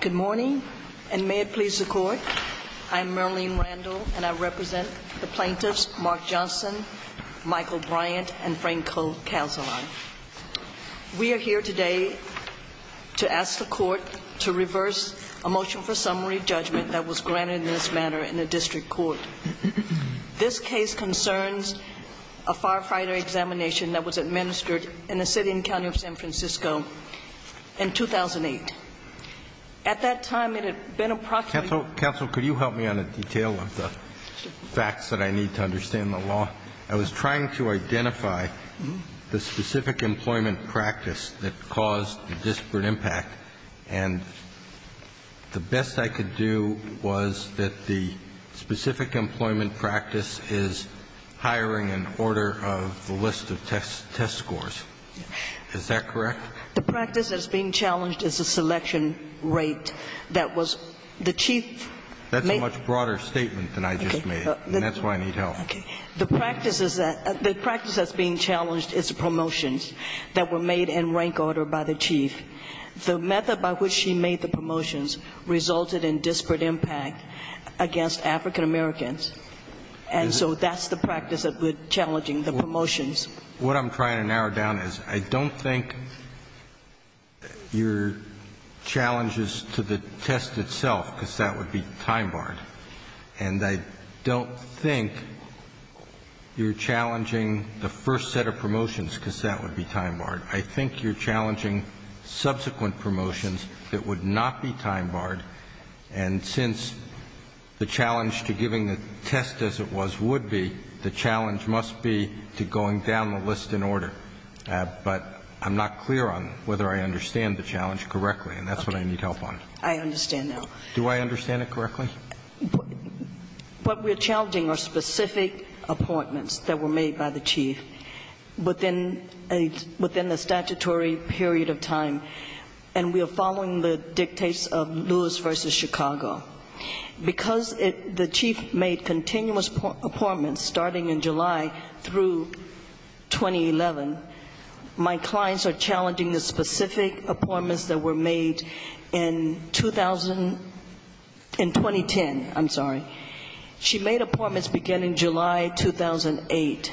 Good morning, and may it please the court, I'm Merlene Randall and I represent the plaintiffs Mark Johnson, Michael Bryant, and Franco Casilan. We are here today to ask the court to reverse a motion for summary judgment that was granted in this manner in the district court. This case concerns a firefighter examination that was administered in the City and County of San Francisco in 2008. At that time it had been approximately Counsel, could you help me on a detail of the facts that I need to understand the law? I was trying to identify the specific employment practice that caused the disparate impact and the best I could do was that the specific employment practice is hiring in order of the list of test scores. Is that correct? The practice that is being challenged is the selection rate that was the chief. That's a much broader statement than I just made and that's why I need help. The practice that is being challenged is the promotions that were made in rank order by the chief. The method by which she made the promotions resulted in disparate impact against African Americans and so that's the practice that I need help with challenging the promotions. What I'm trying to narrow down is I don't think your challenges to the test itself, because that would be time-barred, and I don't think you're challenging the first set of promotions because that would be time-barred. I think you're challenging subsequent promotions that would not be time-barred, and since the challenge to giving the test as it was would be, the challenge must be to going down the list in order. But I'm not clear on whether I understand the challenge correctly and that's what I need help on. I understand now. Do I understand it correctly? What we're challenging are specific appointments that were made by the chief within a statutory period of time, and we are following the dictates of Lewis versus Chicago. Because the chief made continuous appointments starting in July through 2011, my clients are challenging the specific appointments that were made in 2010. She made appointments beginning July 2008,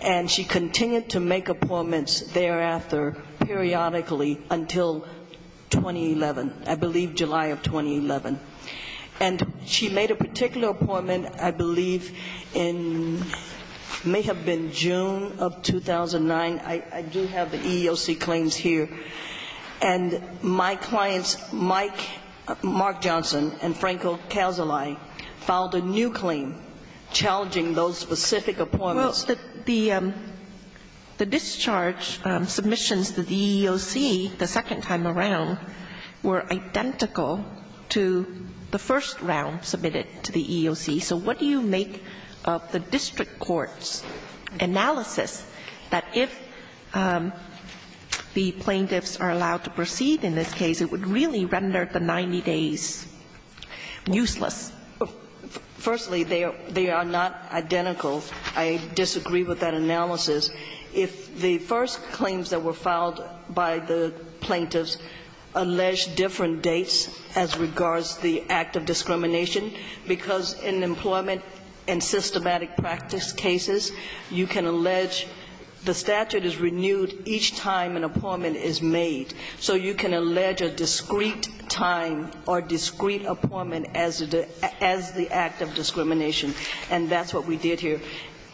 and she continued to make appointments thereafter periodically until 2011, I believe July of 2011. And she made a particular appointment, I believe, in may have been June of 2009. I do have the EEOC claims here. And my clients, Mike, Mark Johnson, and Franco Casali, filed a new claim challenging those specific appointments. Well, the discharge submissions to the EEOC the second time around were identical to the first round submitted to the EEOC. So what do you make of the district court's analysis that if the plaintiffs are allowed to proceed in this case, it would really render the 90 days useless? Firstly, they are not identical. I disagree with that analysis. If the first claims that were filed by the plaintiffs allege different dates as regards the act of discrimination, because in employment and systematic practice cases, you can allege the statute is renewed each time an appointment is made. So you can allege a discrete time or discrete appointment as the act of discrimination. And that's what we did here.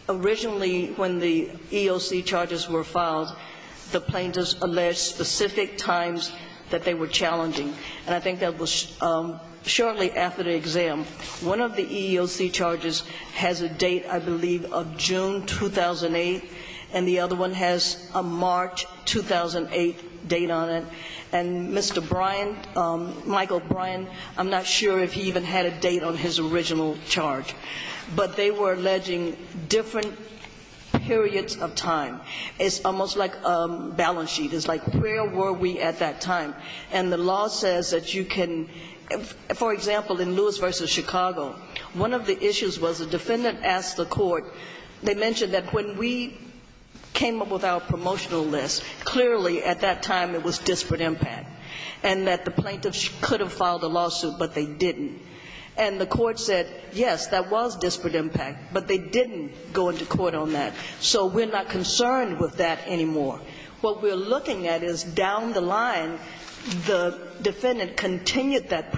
Originally, when the EEOC charges were filed, the plaintiffs alleged specific times that they were challenging. And I think that was shortly after the exam. One of the EEOC charges has a date, I believe, of June 2008, and the other one has a March 2008 date on it. And Mr. Brian, Michael Brian, I'm not sure if he even had a date on his original charge. But they were alleging different periods of time. It's almost like a balance sheet. It's like where were we at that time? And the law says that you can, for example, in Lewis v. Chicago, one of the issues was the defendant asked the court, they mentioned that when we came up with our promotional list, clearly at that time it was disparate impact, and that the plaintiffs could have filed a lawsuit, but they didn't. And the court said, yes, that was disparate impact, but they didn't go into court on that. So we're not concerned with that anymore. What we're looking at is down the line, the defendant continued that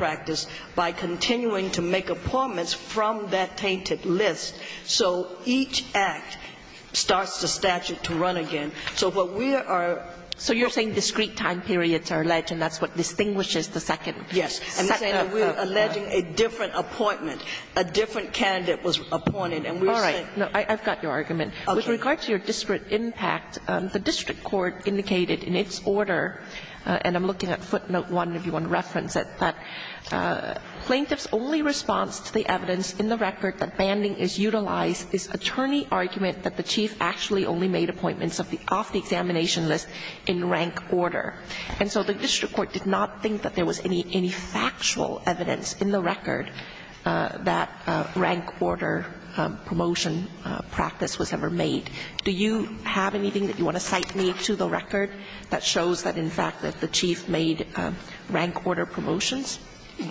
statute to run again. So what we are ‑‑ So you're saying discrete time periods are alleged, and that's what distinguishes the second. Yes. And we're saying that we're alleging a different appointment. A different candidate was appointed, and we're saying ‑‑ All right. No, I've got your argument. With regard to your disparate impact, the district court indicated in its order, and I'm looking at footnote 1 if you want to reference it, that plaintiffs' only response to the evidence in the record that banding is utilized is attorney argument that the chief actually only made appointments off the examination list in rank order. And so the district court did not think that there was any factual evidence in the record that rank order promotion practice was ever made. Do you have anything that you want to cite me to the record that shows that, in fact, that the chief made rank order promotions?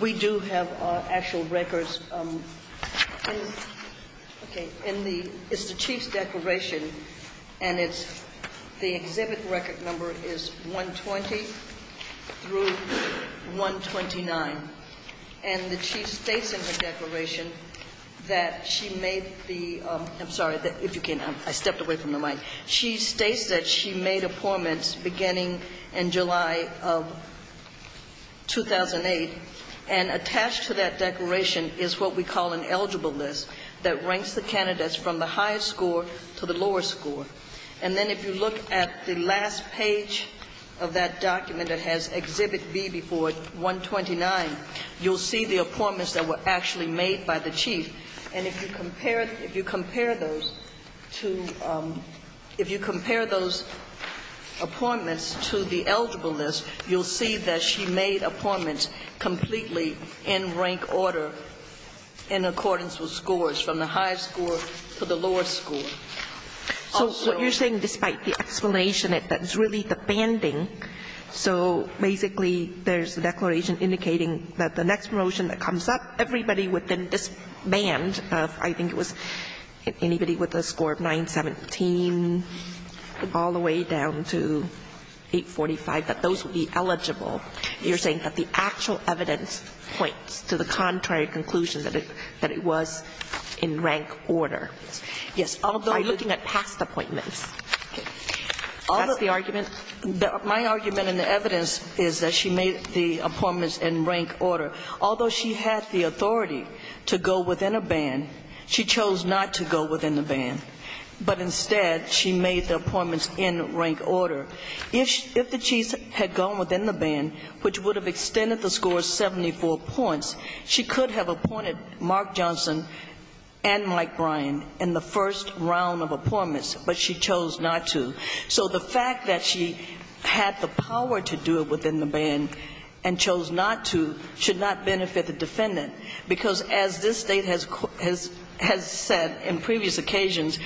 We do have actual records in ‑‑ okay. In the ‑‑ it's the chief's declaration, and it's the exhibit record number is 120 through 129. And the chief states in her declaration that she made the ‑‑ I'm sorry. If you can, I stepped away from the mic. She states that she made appointments beginning in July of 2008, and attached to that declaration is what we call an eligible list that ranks the candidates from the highest score to the lowest score. And then if you look at the last page of that document, it has exhibit B before 129, you'll see the appointments that were actually made by the chief. And if you compare those to ‑‑ if you compare those appointments to the eligible list, you'll see that she made appointments completely in rank order in accordance with scores, from the highest score to the lowest score. So what you're saying, despite the explanation, is that it's really the banding. So basically, there's a declaration indicating that the next promotion that comes up, everybody within this band of, I think it was anybody with a score of 917, all the way down to 845, that those would be eligible. You're saying that the actual evidence points to the contrary conclusion that it was in rank order. Yes. By looking at past appointments. That's the argument. My argument in the evidence is that she made the appointments in rank order. Although she had the authority to go within a band, she chose not to go within the band. But instead, she made the appointments in rank order. If the chiefs had gone within the band, which would have extended the score 74 points, she could have appointed Mark Johnson and Mike Bryan in the first round of appointments, but she chose not to. So the fact that she had the power to do it within the band and chose not to should not benefit the defendant, because as this State has said in previous occasions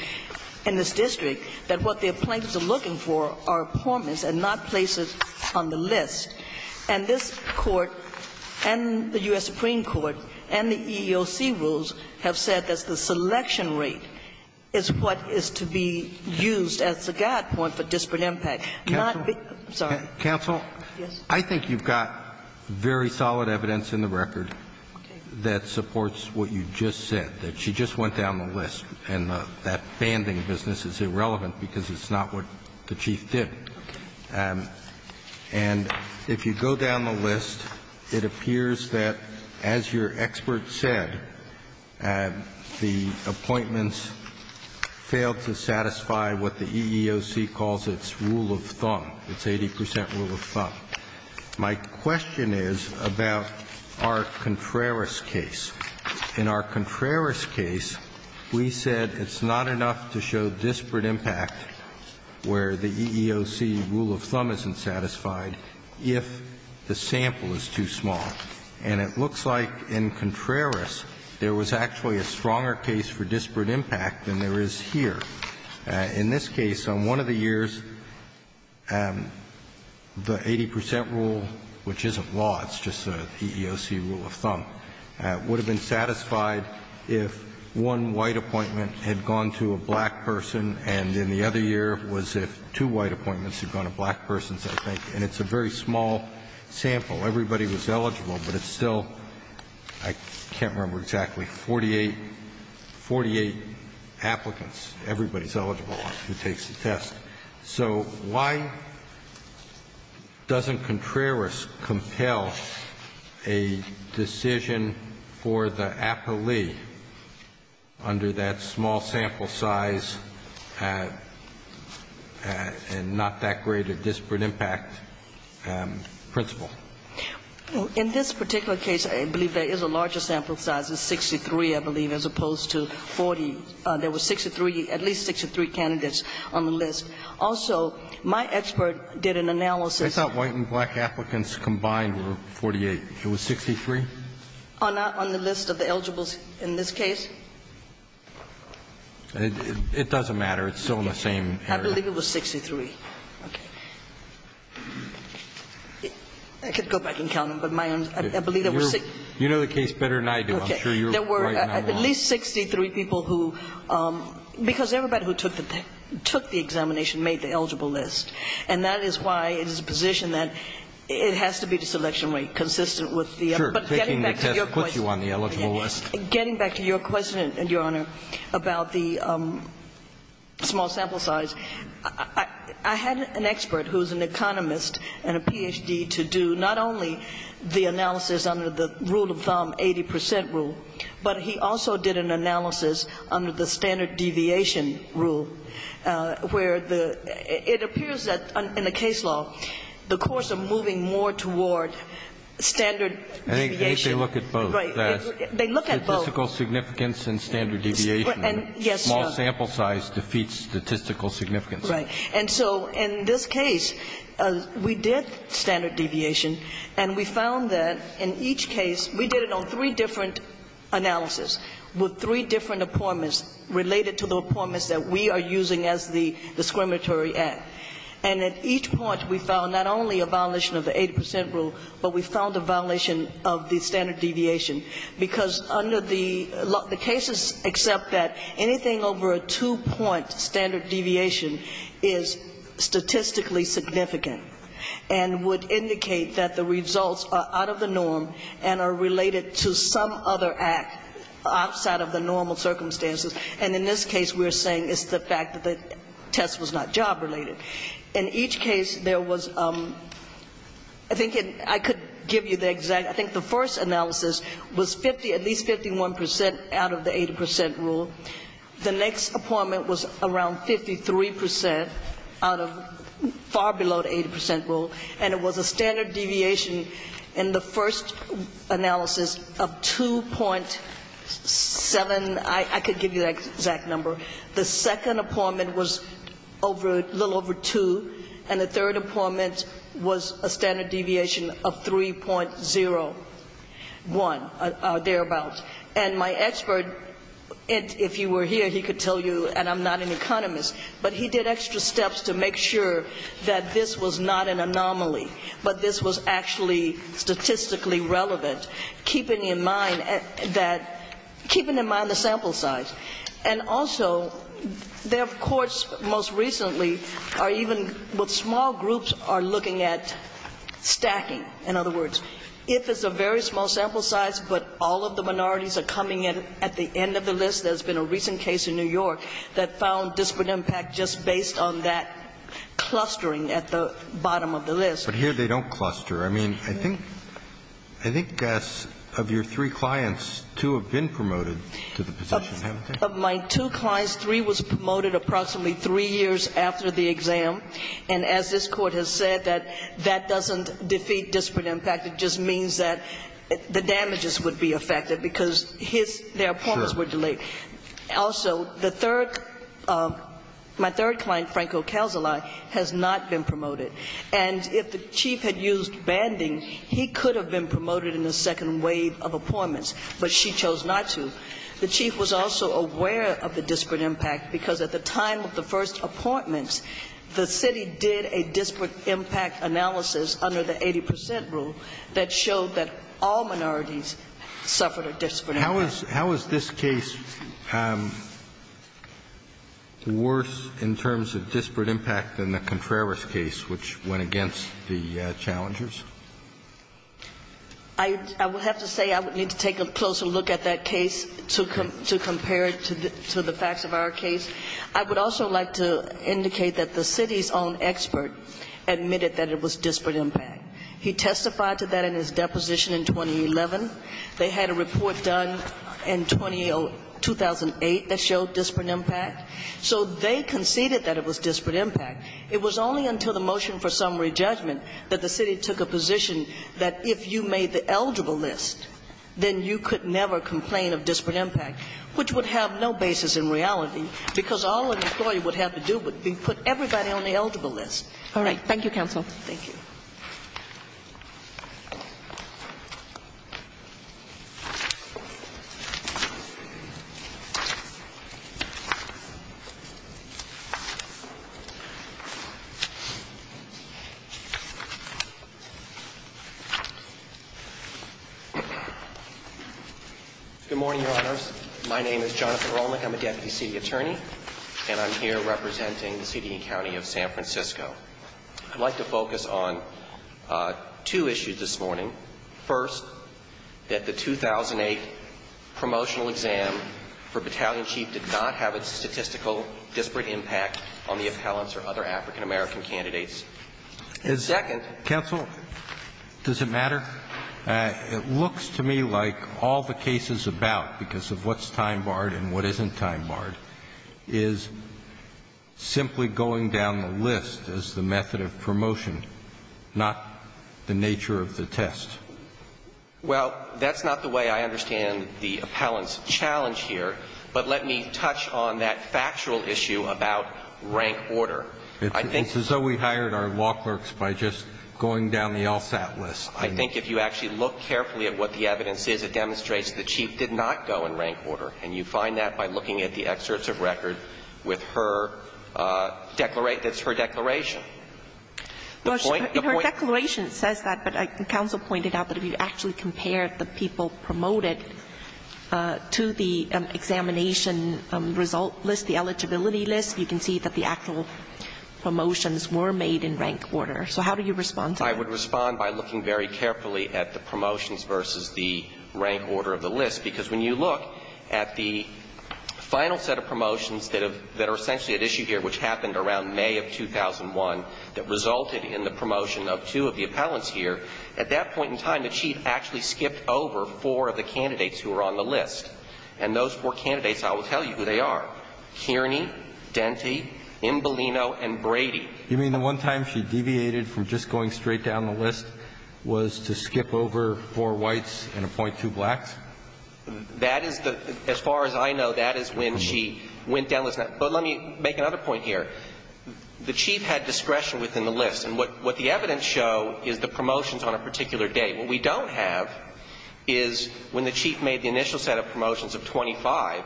in this district, that what the appointees are looking for are appointments and not places on the list. And this Court and the U.S. Supreme Court and the EEOC rules have said that the selection rate is what is to be used as the guide point for disparate impact. Not the ---- I'm sorry. Counsel. Yes. I think you've got very solid evidence in the record that supports what you just said, that she just went down the list. And that banding business is irrelevant because it's not what the chief did. Okay. And if you go down the list, it appears that, as your expert said, the appointments failed to satisfy what the EEOC calls its rule of thumb, its 80 percent rule of thumb. My question is about our Contreras case. In our Contreras case, we said it's not enough to show disparate impact where the EEOC rule of thumb isn't satisfied if the sample is too small. And it looks like in Contreras, there was actually a stronger case for disparate impact than there is here. In this case, on one of the years, the 80 percent rule, which isn't law, it's just the EEOC rule of thumb, would have been satisfied if one white appointment had gone to a black person and in the other year was if two white appointments had gone to black persons, I think. And it's a very small sample. Everybody was eligible, but it's still, I can't remember exactly, 48 applicants. Everybody's eligible who takes the test. So why doesn't Contreras compel a decision for the appellee under that small sample size and not that great a disparate impact principle? In this particular case, I believe there is a larger sample size. It's 63, I believe, as opposed to 40. There were 63, at least 63 candidates on the list. Also, my expert did an analysis. I thought white and black applicants combined were 48. It was 63? On the list of the eligibles in this case? It doesn't matter. It's still in the same area. I believe it was 63. Okay. I could go back and count them, but I believe there were 63. You know the case better than I do. I'm sure you're right. There were at least 63 people who, because everybody who took the examination made the eligible list. And that is why it is a position that it has to be the selection rate consistent with the other. But getting back to your question. Sure. Taking the test puts you on the eligible list. Getting back to your question, Your Honor, about the small sample size, I had an expert who is an economist and a Ph.D. to do not only the analysis under the rule of thumb, 80% rule, but he also did an analysis under the standard deviation rule, where the it appears that in the case law, the courts are moving more toward standard deviation. I think they look at both. Right. They look at both. Statistical significance and standard deviation. Yes. Small sample size defeats statistical significance. Right. And so in this case, we did standard deviation. And we found that in each case, we did it on three different analysis with three different appointments related to the appointments that we are using as the discriminatory act. And at each point, we found not only a violation of the 80% rule, but we found a violation of the standard deviation. Because under the cases except that anything over a two-point standard deviation is statistically significant and would indicate that the results are out of the norm and are related to some other act outside of the normal circumstances. And in this case, we are saying it's the fact that the test was not job related. In each case, there was ‑‑ I think I could give you the exact ‑‑ I think the first analysis was 50, at least 51% out of the 80% rule. The next appointment was around 53% out of far below the 80% rule. And it was a standard deviation in the first analysis of 2.7. I could give you the exact number. The second appointment was a little over 2. And the third appointment was a standard deviation of 3.01, thereabouts. And my expert, if you were here, he could tell you, and I'm not an economist, but he did extra steps to make sure that this was not an anomaly, but this was actually statistically relevant, keeping in mind that ‑‑ keeping in mind the sample size. And also, there of course most recently are even what small groups are looking at stacking, in other words, if it's a very small sample size, but all of the minorities are coming in at the end of the list. There's been a recent case in New York that found disparate impact just based on that clustering at the bottom of the list. But here they don't cluster. I mean, I think ‑‑ I think, Gus, of your three clients, two have been promoted to the position, haven't they? Of my two clients, three was promoted approximately three years after the exam. And as this Court has said, that that doesn't defeat disparate impact, it just means that the damages would be affected because his ‑‑ their appointments were delayed. Also, the third ‑‑ my third client, Franco Calzillai, has not been promoted. And if the chief had used banding, he could have been promoted in the second wave of appointments, but she chose not to. The chief was also aware of the disparate impact because at the time of the first two appointments, the city did a disparate impact analysis under the 80 percent rule that showed that all minorities suffered a disparate impact. How is this case worse in terms of disparate impact than the Contreras case, which went against the challengers? I would have to say I would need to take a closer look at that case to compare it to the facts of our case. I would also like to indicate that the city's own expert admitted that it was disparate impact. He testified to that in his deposition in 2011. They had a report done in 2008 that showed disparate impact. So they conceded that it was disparate impact. It was only until the motion for summary judgment that the city took a position that if you made the eligible list, then you could never complain of disparate impact, which would have no basis in reality, because all an employee would have to do would be put everybody on the eligible list. All right. Thank you, counsel. Good morning, Your Honors. My name is Jonathan Rolnick. I'm a deputy city attorney, and I'm here representing the city and county of San Francisco. I'd like to focus on two issues this morning. First, that the 2008 promotional exam for Battalion Chief did not have a statistical disparate impact on the appellants or other African-American candidates. Second ---- Counsel, does it matter? It looks to me like all the cases about, because of what's time barred and what isn't time barred, is simply going down the list as the method of promotion, not the nature of the test. Well, that's not the way I understand the appellant's challenge here. But let me touch on that factual issue about rank order. It's as though we hired our law clerks by just going down the LSAT list. I think if you actually look carefully at what the evidence is, it demonstrates that the chief did not go in rank order, and you find that by looking at the excerpts of record with her declaration. That's her declaration. Well, in her declaration it says that, but counsel pointed out that if you actually compare the people promoted to the examination result list, the eligibility list, you can see that the actual promotions were made in rank order. So how do you respond to that? I would respond by looking very carefully at the promotions versus the rank order of the list. Because when you look at the final set of promotions that are essentially at issue here, which happened around May of 2001, that resulted in the promotion of two of the appellants here, at that point in time the chief actually skipped over four of the candidates who were on the list. And those four candidates, I will tell you who they are. Kearney, Denti, Imbolino, and Brady. You mean the one time she deviated from just going straight down the list was to skip over four whites and appoint two blacks? That is the – as far as I know, that is when she went down the list. But let me make another point here. The chief had discretion within the list. And what the evidence show is the promotions on a particular day. What we don't have is when the chief made the initial set of promotions of 25,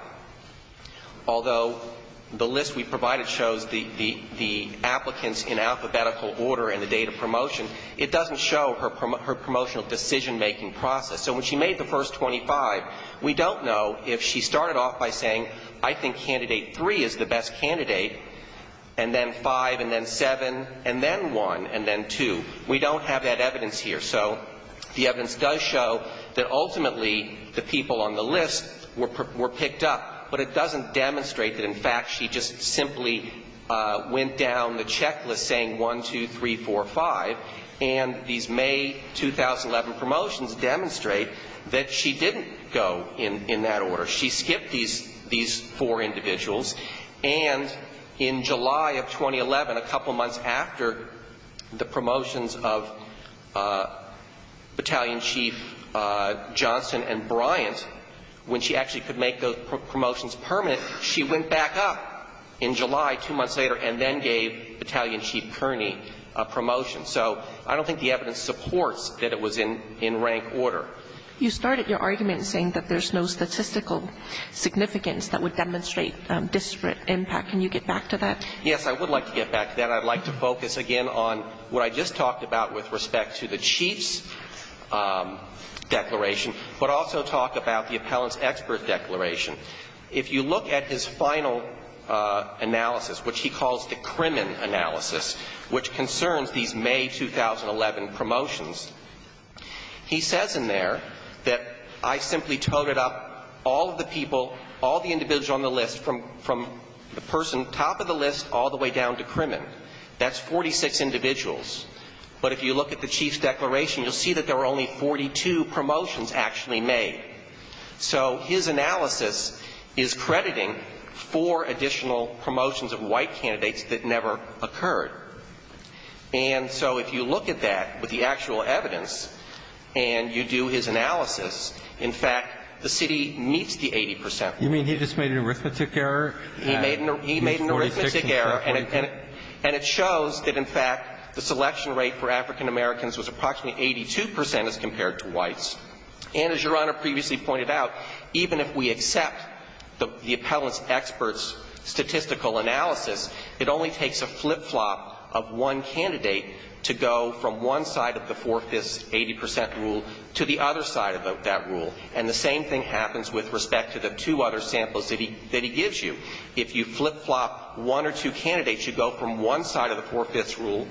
although the list we provided shows the applicants in alphabetical order in the date of promotion, it doesn't show her promotional decision-making process. So when she made the first 25, we don't know if she started off by saying, I think candidate three is the best candidate, and then five, and then seven, and then one, and then two. We don't have that evidence here. So the evidence does show that ultimately the people on the list were picked up. But it doesn't demonstrate that, in fact, she just simply went down the checklist saying one, two, three, four, five. And these May 2011 promotions demonstrate that she didn't go in that order. She skipped these four individuals. And in July of 2011, a couple months after the promotions of Battalion Chief Johnson and Bryant, when she actually could make those promotions permanent, she went back up in July two months later and then gave Battalion Chief Kearney a promotion. So I don't think the evidence supports that it was in rank order. You started your argument saying that there's no statistical significance that would demonstrate disparate impact. Can you get back to that? Yes, I would like to get back to that. And I'd like to focus again on what I just talked about with respect to the Chief's declaration, but also talk about the appellant's expert declaration. If you look at his final analysis, which he calls the Crimin analysis, which concerns these May 2011 promotions, he says in there that I simply toted up all of the people, all the individuals on the list from the person top of the list all the way down to Crimin. That's 46 individuals. But if you look at the Chief's declaration, you'll see that there were only 42 promotions actually made. So his analysis is crediting four additional promotions of white candidates that never occurred. And so if you look at that with the actual evidence and you do his analysis, in fact, the city meets the 80 percent rule. You mean he just made an arithmetic error? He made an arithmetic error. And it shows that, in fact, the selection rate for African Americans was approximately 82 percent as compared to whites. And as Your Honor previously pointed out, even if we accept the appellant's expert's statistical analysis, it only takes a flip-flop of one candidate to go from one side of the four-fifths 80 percent rule to the other side of that rule. And the same thing happens with respect to the two other samples that he gives you. If you flip-flop one or two candidates, you go from one side of the four-fifths rule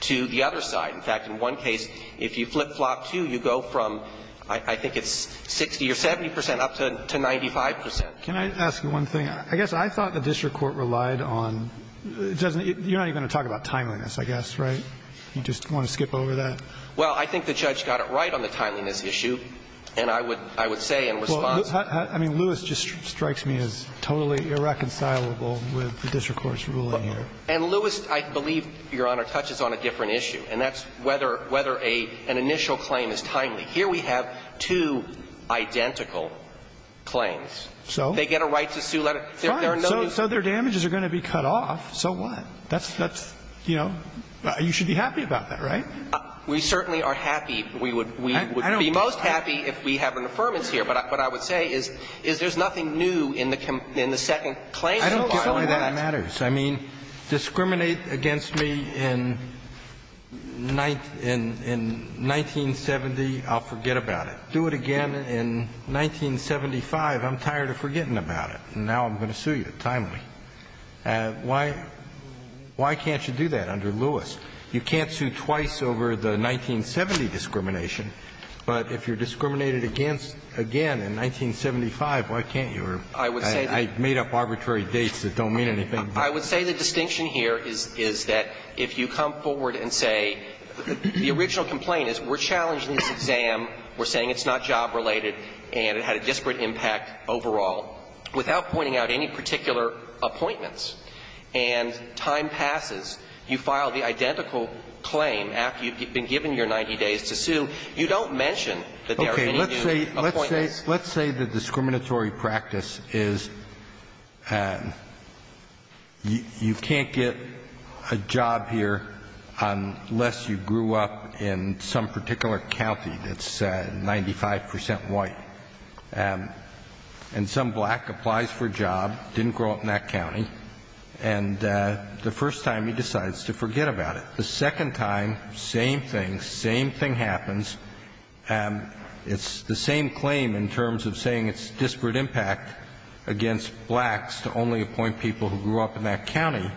to the other side. In fact, in one case, if you flip-flop two, you go from, I think it's 60 or 70 percent up to 95 percent. Can I ask you one thing? I guess I thought the district court relied on — you're not even going to talk about timeliness, I guess, right? You just want to skip over that? Well, I think the judge got it right on the timeliness issue, and I would — I would say in response — Well, I mean, Lewis just strikes me as totally irreconcilable with the district court's ruling here. And Lewis, I believe, Your Honor, touches on a different issue, and that's whether — whether an initial claim is timely. Here we have two identical claims. So? They get a right to sue. Fine. So their damages are going to be cut off. So what? That's — that's, you know, you should be happy about that, right? We certainly are happy. We would be most happy if we have an affirmance here. But what I would say is there's nothing new in the second claim. I don't think that matters. I mean, discriminate against me in 1970, I'll forget about it. Do it again in 1975, I'm tired of forgetting about it. And now I'm going to sue you timely. Why — why can't you do that under Lewis? You can't sue twice over the 1970 discrimination. But if you're discriminated against again in 1975, why can't you? I made up arbitrary dates that don't mean anything. I would say the distinction here is that if you come forward and say the original complaint is we're challenging this exam, we're saying it's not job-related, and it had a disparate impact overall, without pointing out any particular appointments, and time passes, you file the identical claim after you've been given your 90 days to sue, you don't mention that there are any new appointments. Let's say the discriminatory practice is you can't get a job here unless you grew up in some particular county that's 95 percent white. And some black applies for a job, didn't grow up in that county, and the first time he decides to forget about it. The second time, same thing, same thing happens. It's the same claim in terms of saying it's disparate impact against blacks to only appoint people who grew up in that county.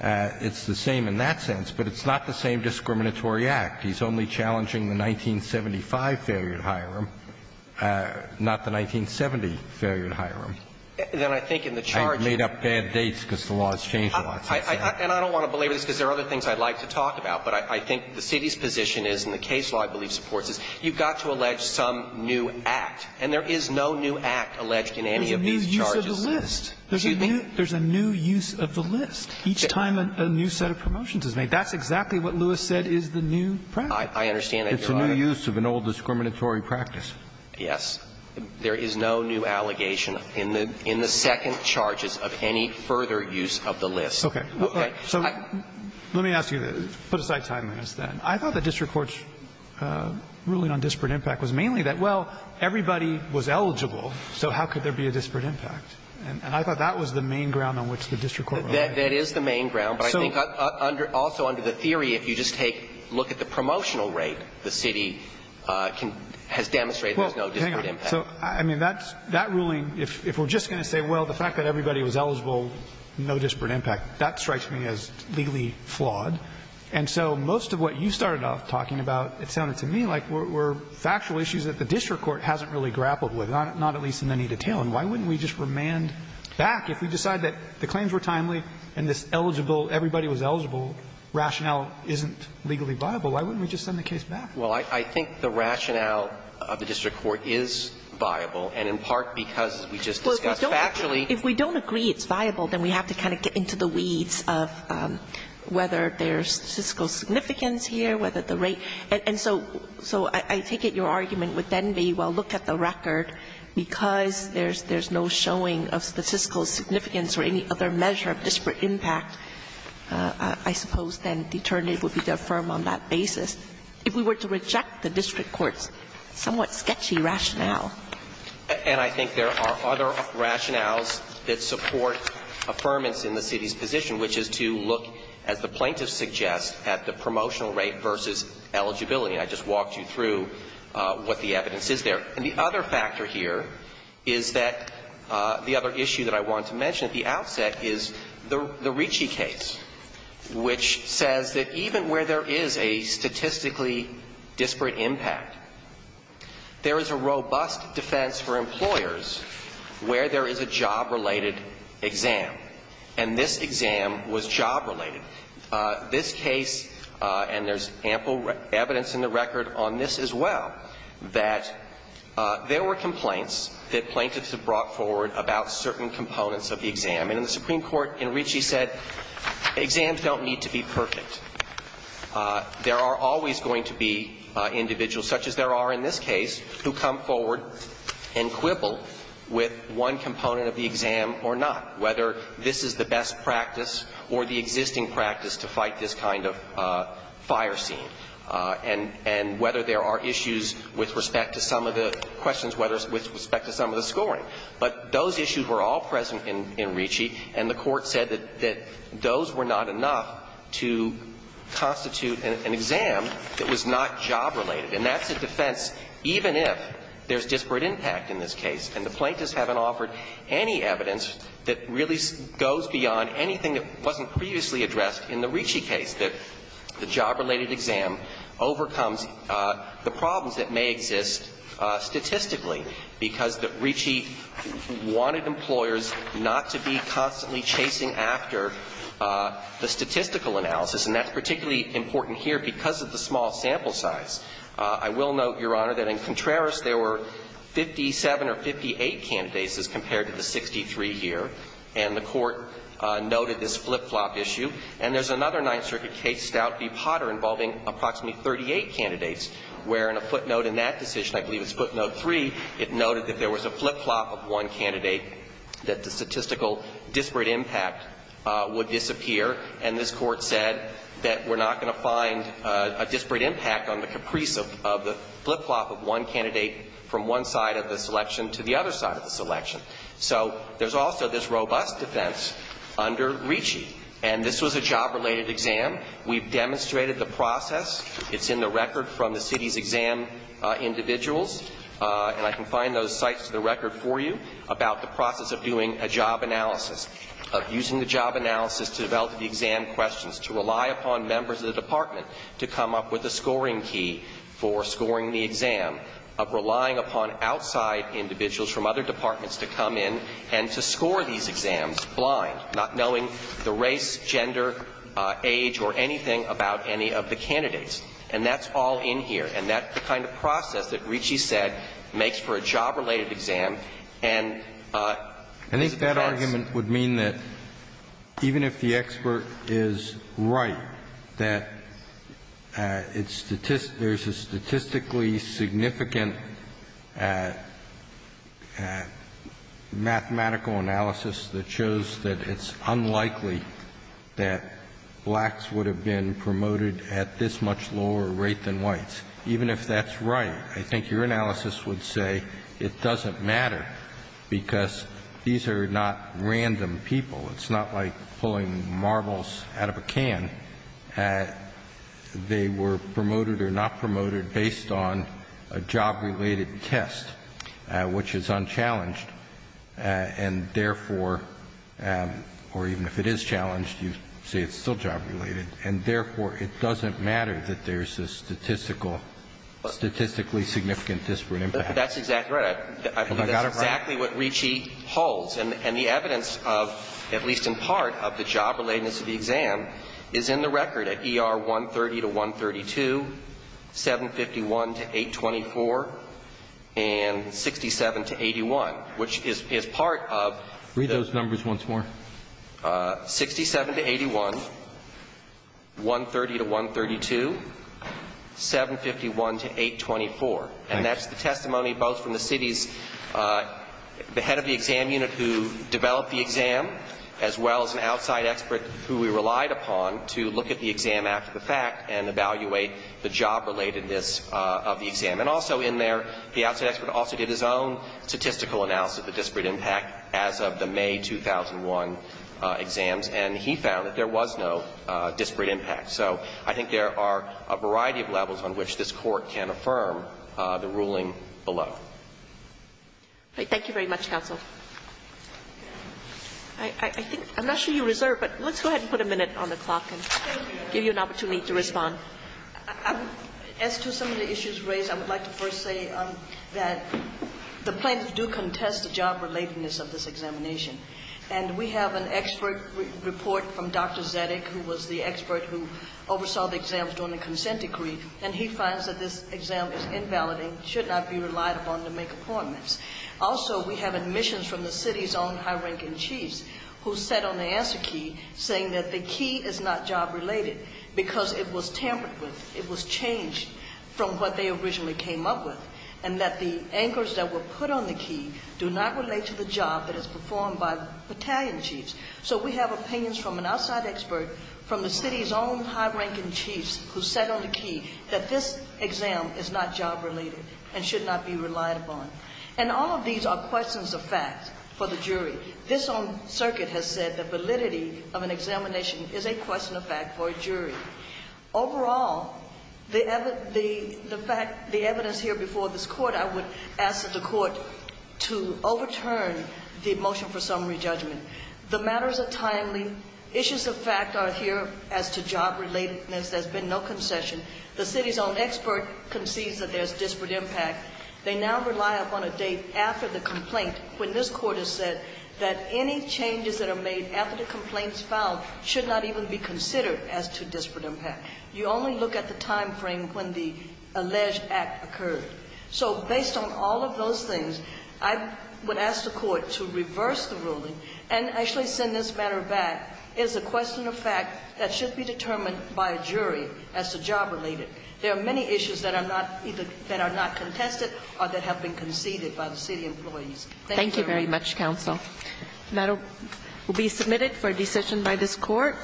It's the same in that sense, but it's not the same discriminatory act. He's only challenging the 1975 failure at Hiram, not the 1970 failure at Hiram. I made up bad dates because the law has changed a lot. And I don't want to belabor this because there are other things I'd like to talk about, but I think the city's position is, and the case law I believe supports this, you've got to allege some new act. And there is no new act alleged in any of these charges. There's a new use of the list. Excuse me? Each time a new set of promotions is made. That's exactly what Lewis said is the new practice. I understand that, Your Honor. It's a new use of an old discriminatory practice. Yes. There is no new allegation in the second charges of any further use of the list. Okay. Okay. So let me ask you, put aside timeliness then. I thought the district court's ruling on disparate impact was mainly that, well, everybody was eligible, so how could there be a disparate impact? And I thought that was the main ground on which the district court relied. That is the main ground. But I think also under the theory, if you just take a look at the promotional rate, the city has demonstrated there's no disparate impact. Well, hang on. So, I mean, that ruling, if we're just going to say, well, the fact that everybody was eligible, no disparate impact, that strikes me as legally flawed. And so most of what you started off talking about, it sounded to me like were factual issues that the district court hasn't really grappled with, not at least in any detail. And why wouldn't we just remand back? If we decide that the claims were timely and this eligible, everybody was eligible rationale isn't legally viable, why wouldn't we just send the case back? Well, I think the rationale of the district court is viable, and in part because we just discussed factually. Well, if we don't agree it's viable, then we have to kind of get into the weeds of whether there's statistical significance here, whether the rate. And so I take it your argument would then be, well, look at the record, because there's no showing of statistical significance or any other measure of disparate impact, I suppose then determinate would be to affirm on that basis. If we were to reject the district court's somewhat sketchy rationale. And I think there are other rationales that support affirmance in the city's position, which is to look, as the plaintiff suggests, at the promotional rate versus eligibility. I just walked you through what the evidence is there. And the other factor here is that the other issue that I wanted to mention at the outset is the Ricci case, which says that even where there is a statistically disparate impact, there is a robust defense for employers where there is a job-related exam, and this exam was job-related. This case, and there's ample evidence in the record on this as well, that there were complaints that plaintiffs have brought forward about certain components of the exam. And the Supreme Court in Ricci said exams don't need to be perfect. There are always going to be individuals, such as there are in this case, who come forward and quibble with one component of the exam or not, whether this is the best practice or the existing practice to fight this kind of fire scene. And whether there are issues with respect to some of the questions, whether it's with respect to some of the scoring. But those issues were all present in Ricci, and the Court said that those were not enough to constitute an exam that was not job-related. And that's a defense even if there's disparate impact in this case. And the plaintiffs haven't offered any evidence that really goes beyond anything that wasn't previously addressed in the Ricci case, that the job-related exam overcomes the problems that may exist statistically, because Ricci wanted employers not to be constantly chasing after the statistical analysis. And that's particularly important here because of the small sample size. I will note, Your Honor, that in Contreras, there were 57 or 58 candidates as compared to the 63 here. And the Court noted this flip-flop issue. And there's another Ninth Circuit case, Stout v. Potter, involving approximately 38 candidates, where in a footnote in that decision, I believe it's footnote 3, it noted that there was a flip-flop of one candidate, that the statistical disparate impact would disappear. And this Court said that we're not going to find a disparate impact on the caprice of the flip-flop of one candidate from one side of the selection to the other side of the selection. So there's also this robust defense under Ricci. And this was a job-related exam. We've demonstrated the process. It's in the record from the city's exam individuals. And I can find those sites to the record for you about the process of doing a job analysis, of using the job analysis to develop the exam questions, to rely upon members of the department to come up with a scoring key for scoring the exam, of relying upon outside individuals from other departments to come in and to score these exams blind, not knowing the race, gender, age, or anything about any of the candidates. And that's all in here. And that's the kind of process that Ricci said makes for a job-related exam. And I think that argument would mean that even if the expert is right that there's a statistically significant mathematical analysis that shows that it's unlikely that blacks would have been promoted at this much lower rate than whites, even if that's right, I think your analysis would say it doesn't matter because these are not random people. It's not like pulling marbles out of a can. They were promoted or not promoted based on a job-related test, which is unchallenged. And therefore, or even if it is challenged, you say it's still job-related. And therefore, it doesn't matter that there's a statistical, statistically significant disparate impact. That's exactly right. I think that's exactly what Ricci holds. And the evidence of, at least in part, of the job-relatedness of the exam is in the record at ER 130 to 132, 751 to 824, and 67 to 81, which is part of the ---- Read those numbers once more. 67 to 81, 130 to 132, 751 to 824. And that's the testimony both from the city's, the head of the exam unit who developed the exam, as well as an outside expert who we relied upon to look at the exam after the fact and evaluate the job-relatedness of the exam. And also in there, the outside expert also did his own statistical analysis of the 2001 exams, and he found that there was no disparate impact. So I think there are a variety of levels on which this Court can affirm the ruling below. Thank you very much, counsel. I think, I'm not sure you reserved, but let's go ahead and put a minute on the clock and give you an opportunity to respond. As to some of the issues raised, I would like to first say that the plaintiffs do contest the job-relatedness of this examination. And we have an expert report from Dr. Zedick, who was the expert who oversaw the exams during the consent decree, and he finds that this exam is invalidating, should not be relied upon to make appointments. Also, we have admissions from the city's own high-ranking chiefs who said on the answer key, saying that the key is not job-related because it was tampered with, it was changed from what they originally came up with, and that the anchors that were put on the key do not relate to the job that is performed by battalion chiefs. So we have opinions from an outside expert from the city's own high-ranking chiefs who said on the key that this exam is not job-related and should not be relied upon. And all of these are questions of fact for the jury. This own circuit has said that validity of an examination is a question of fact for a jury. Overall, the fact, the evidence here before this Court, I would ask that the Court to overturn the motion for summary judgment. The matters are timely. Issues of fact are here as to job-relatedness. There's been no concession. The city's own expert concedes that there's disparate impact. They now rely upon a date after the complaint when this Court has said that any disparate impact. You only look at the time frame when the alleged act occurred. So based on all of those things, I would ask the Court to reverse the ruling and actually send this matter back as a question of fact that should be determined by a jury as to job-related. There are many issues that are not contested or that have been conceded by the city employees. Thank you very much. Thank you very much, Counsel. That will be submitted for a decision by this Court.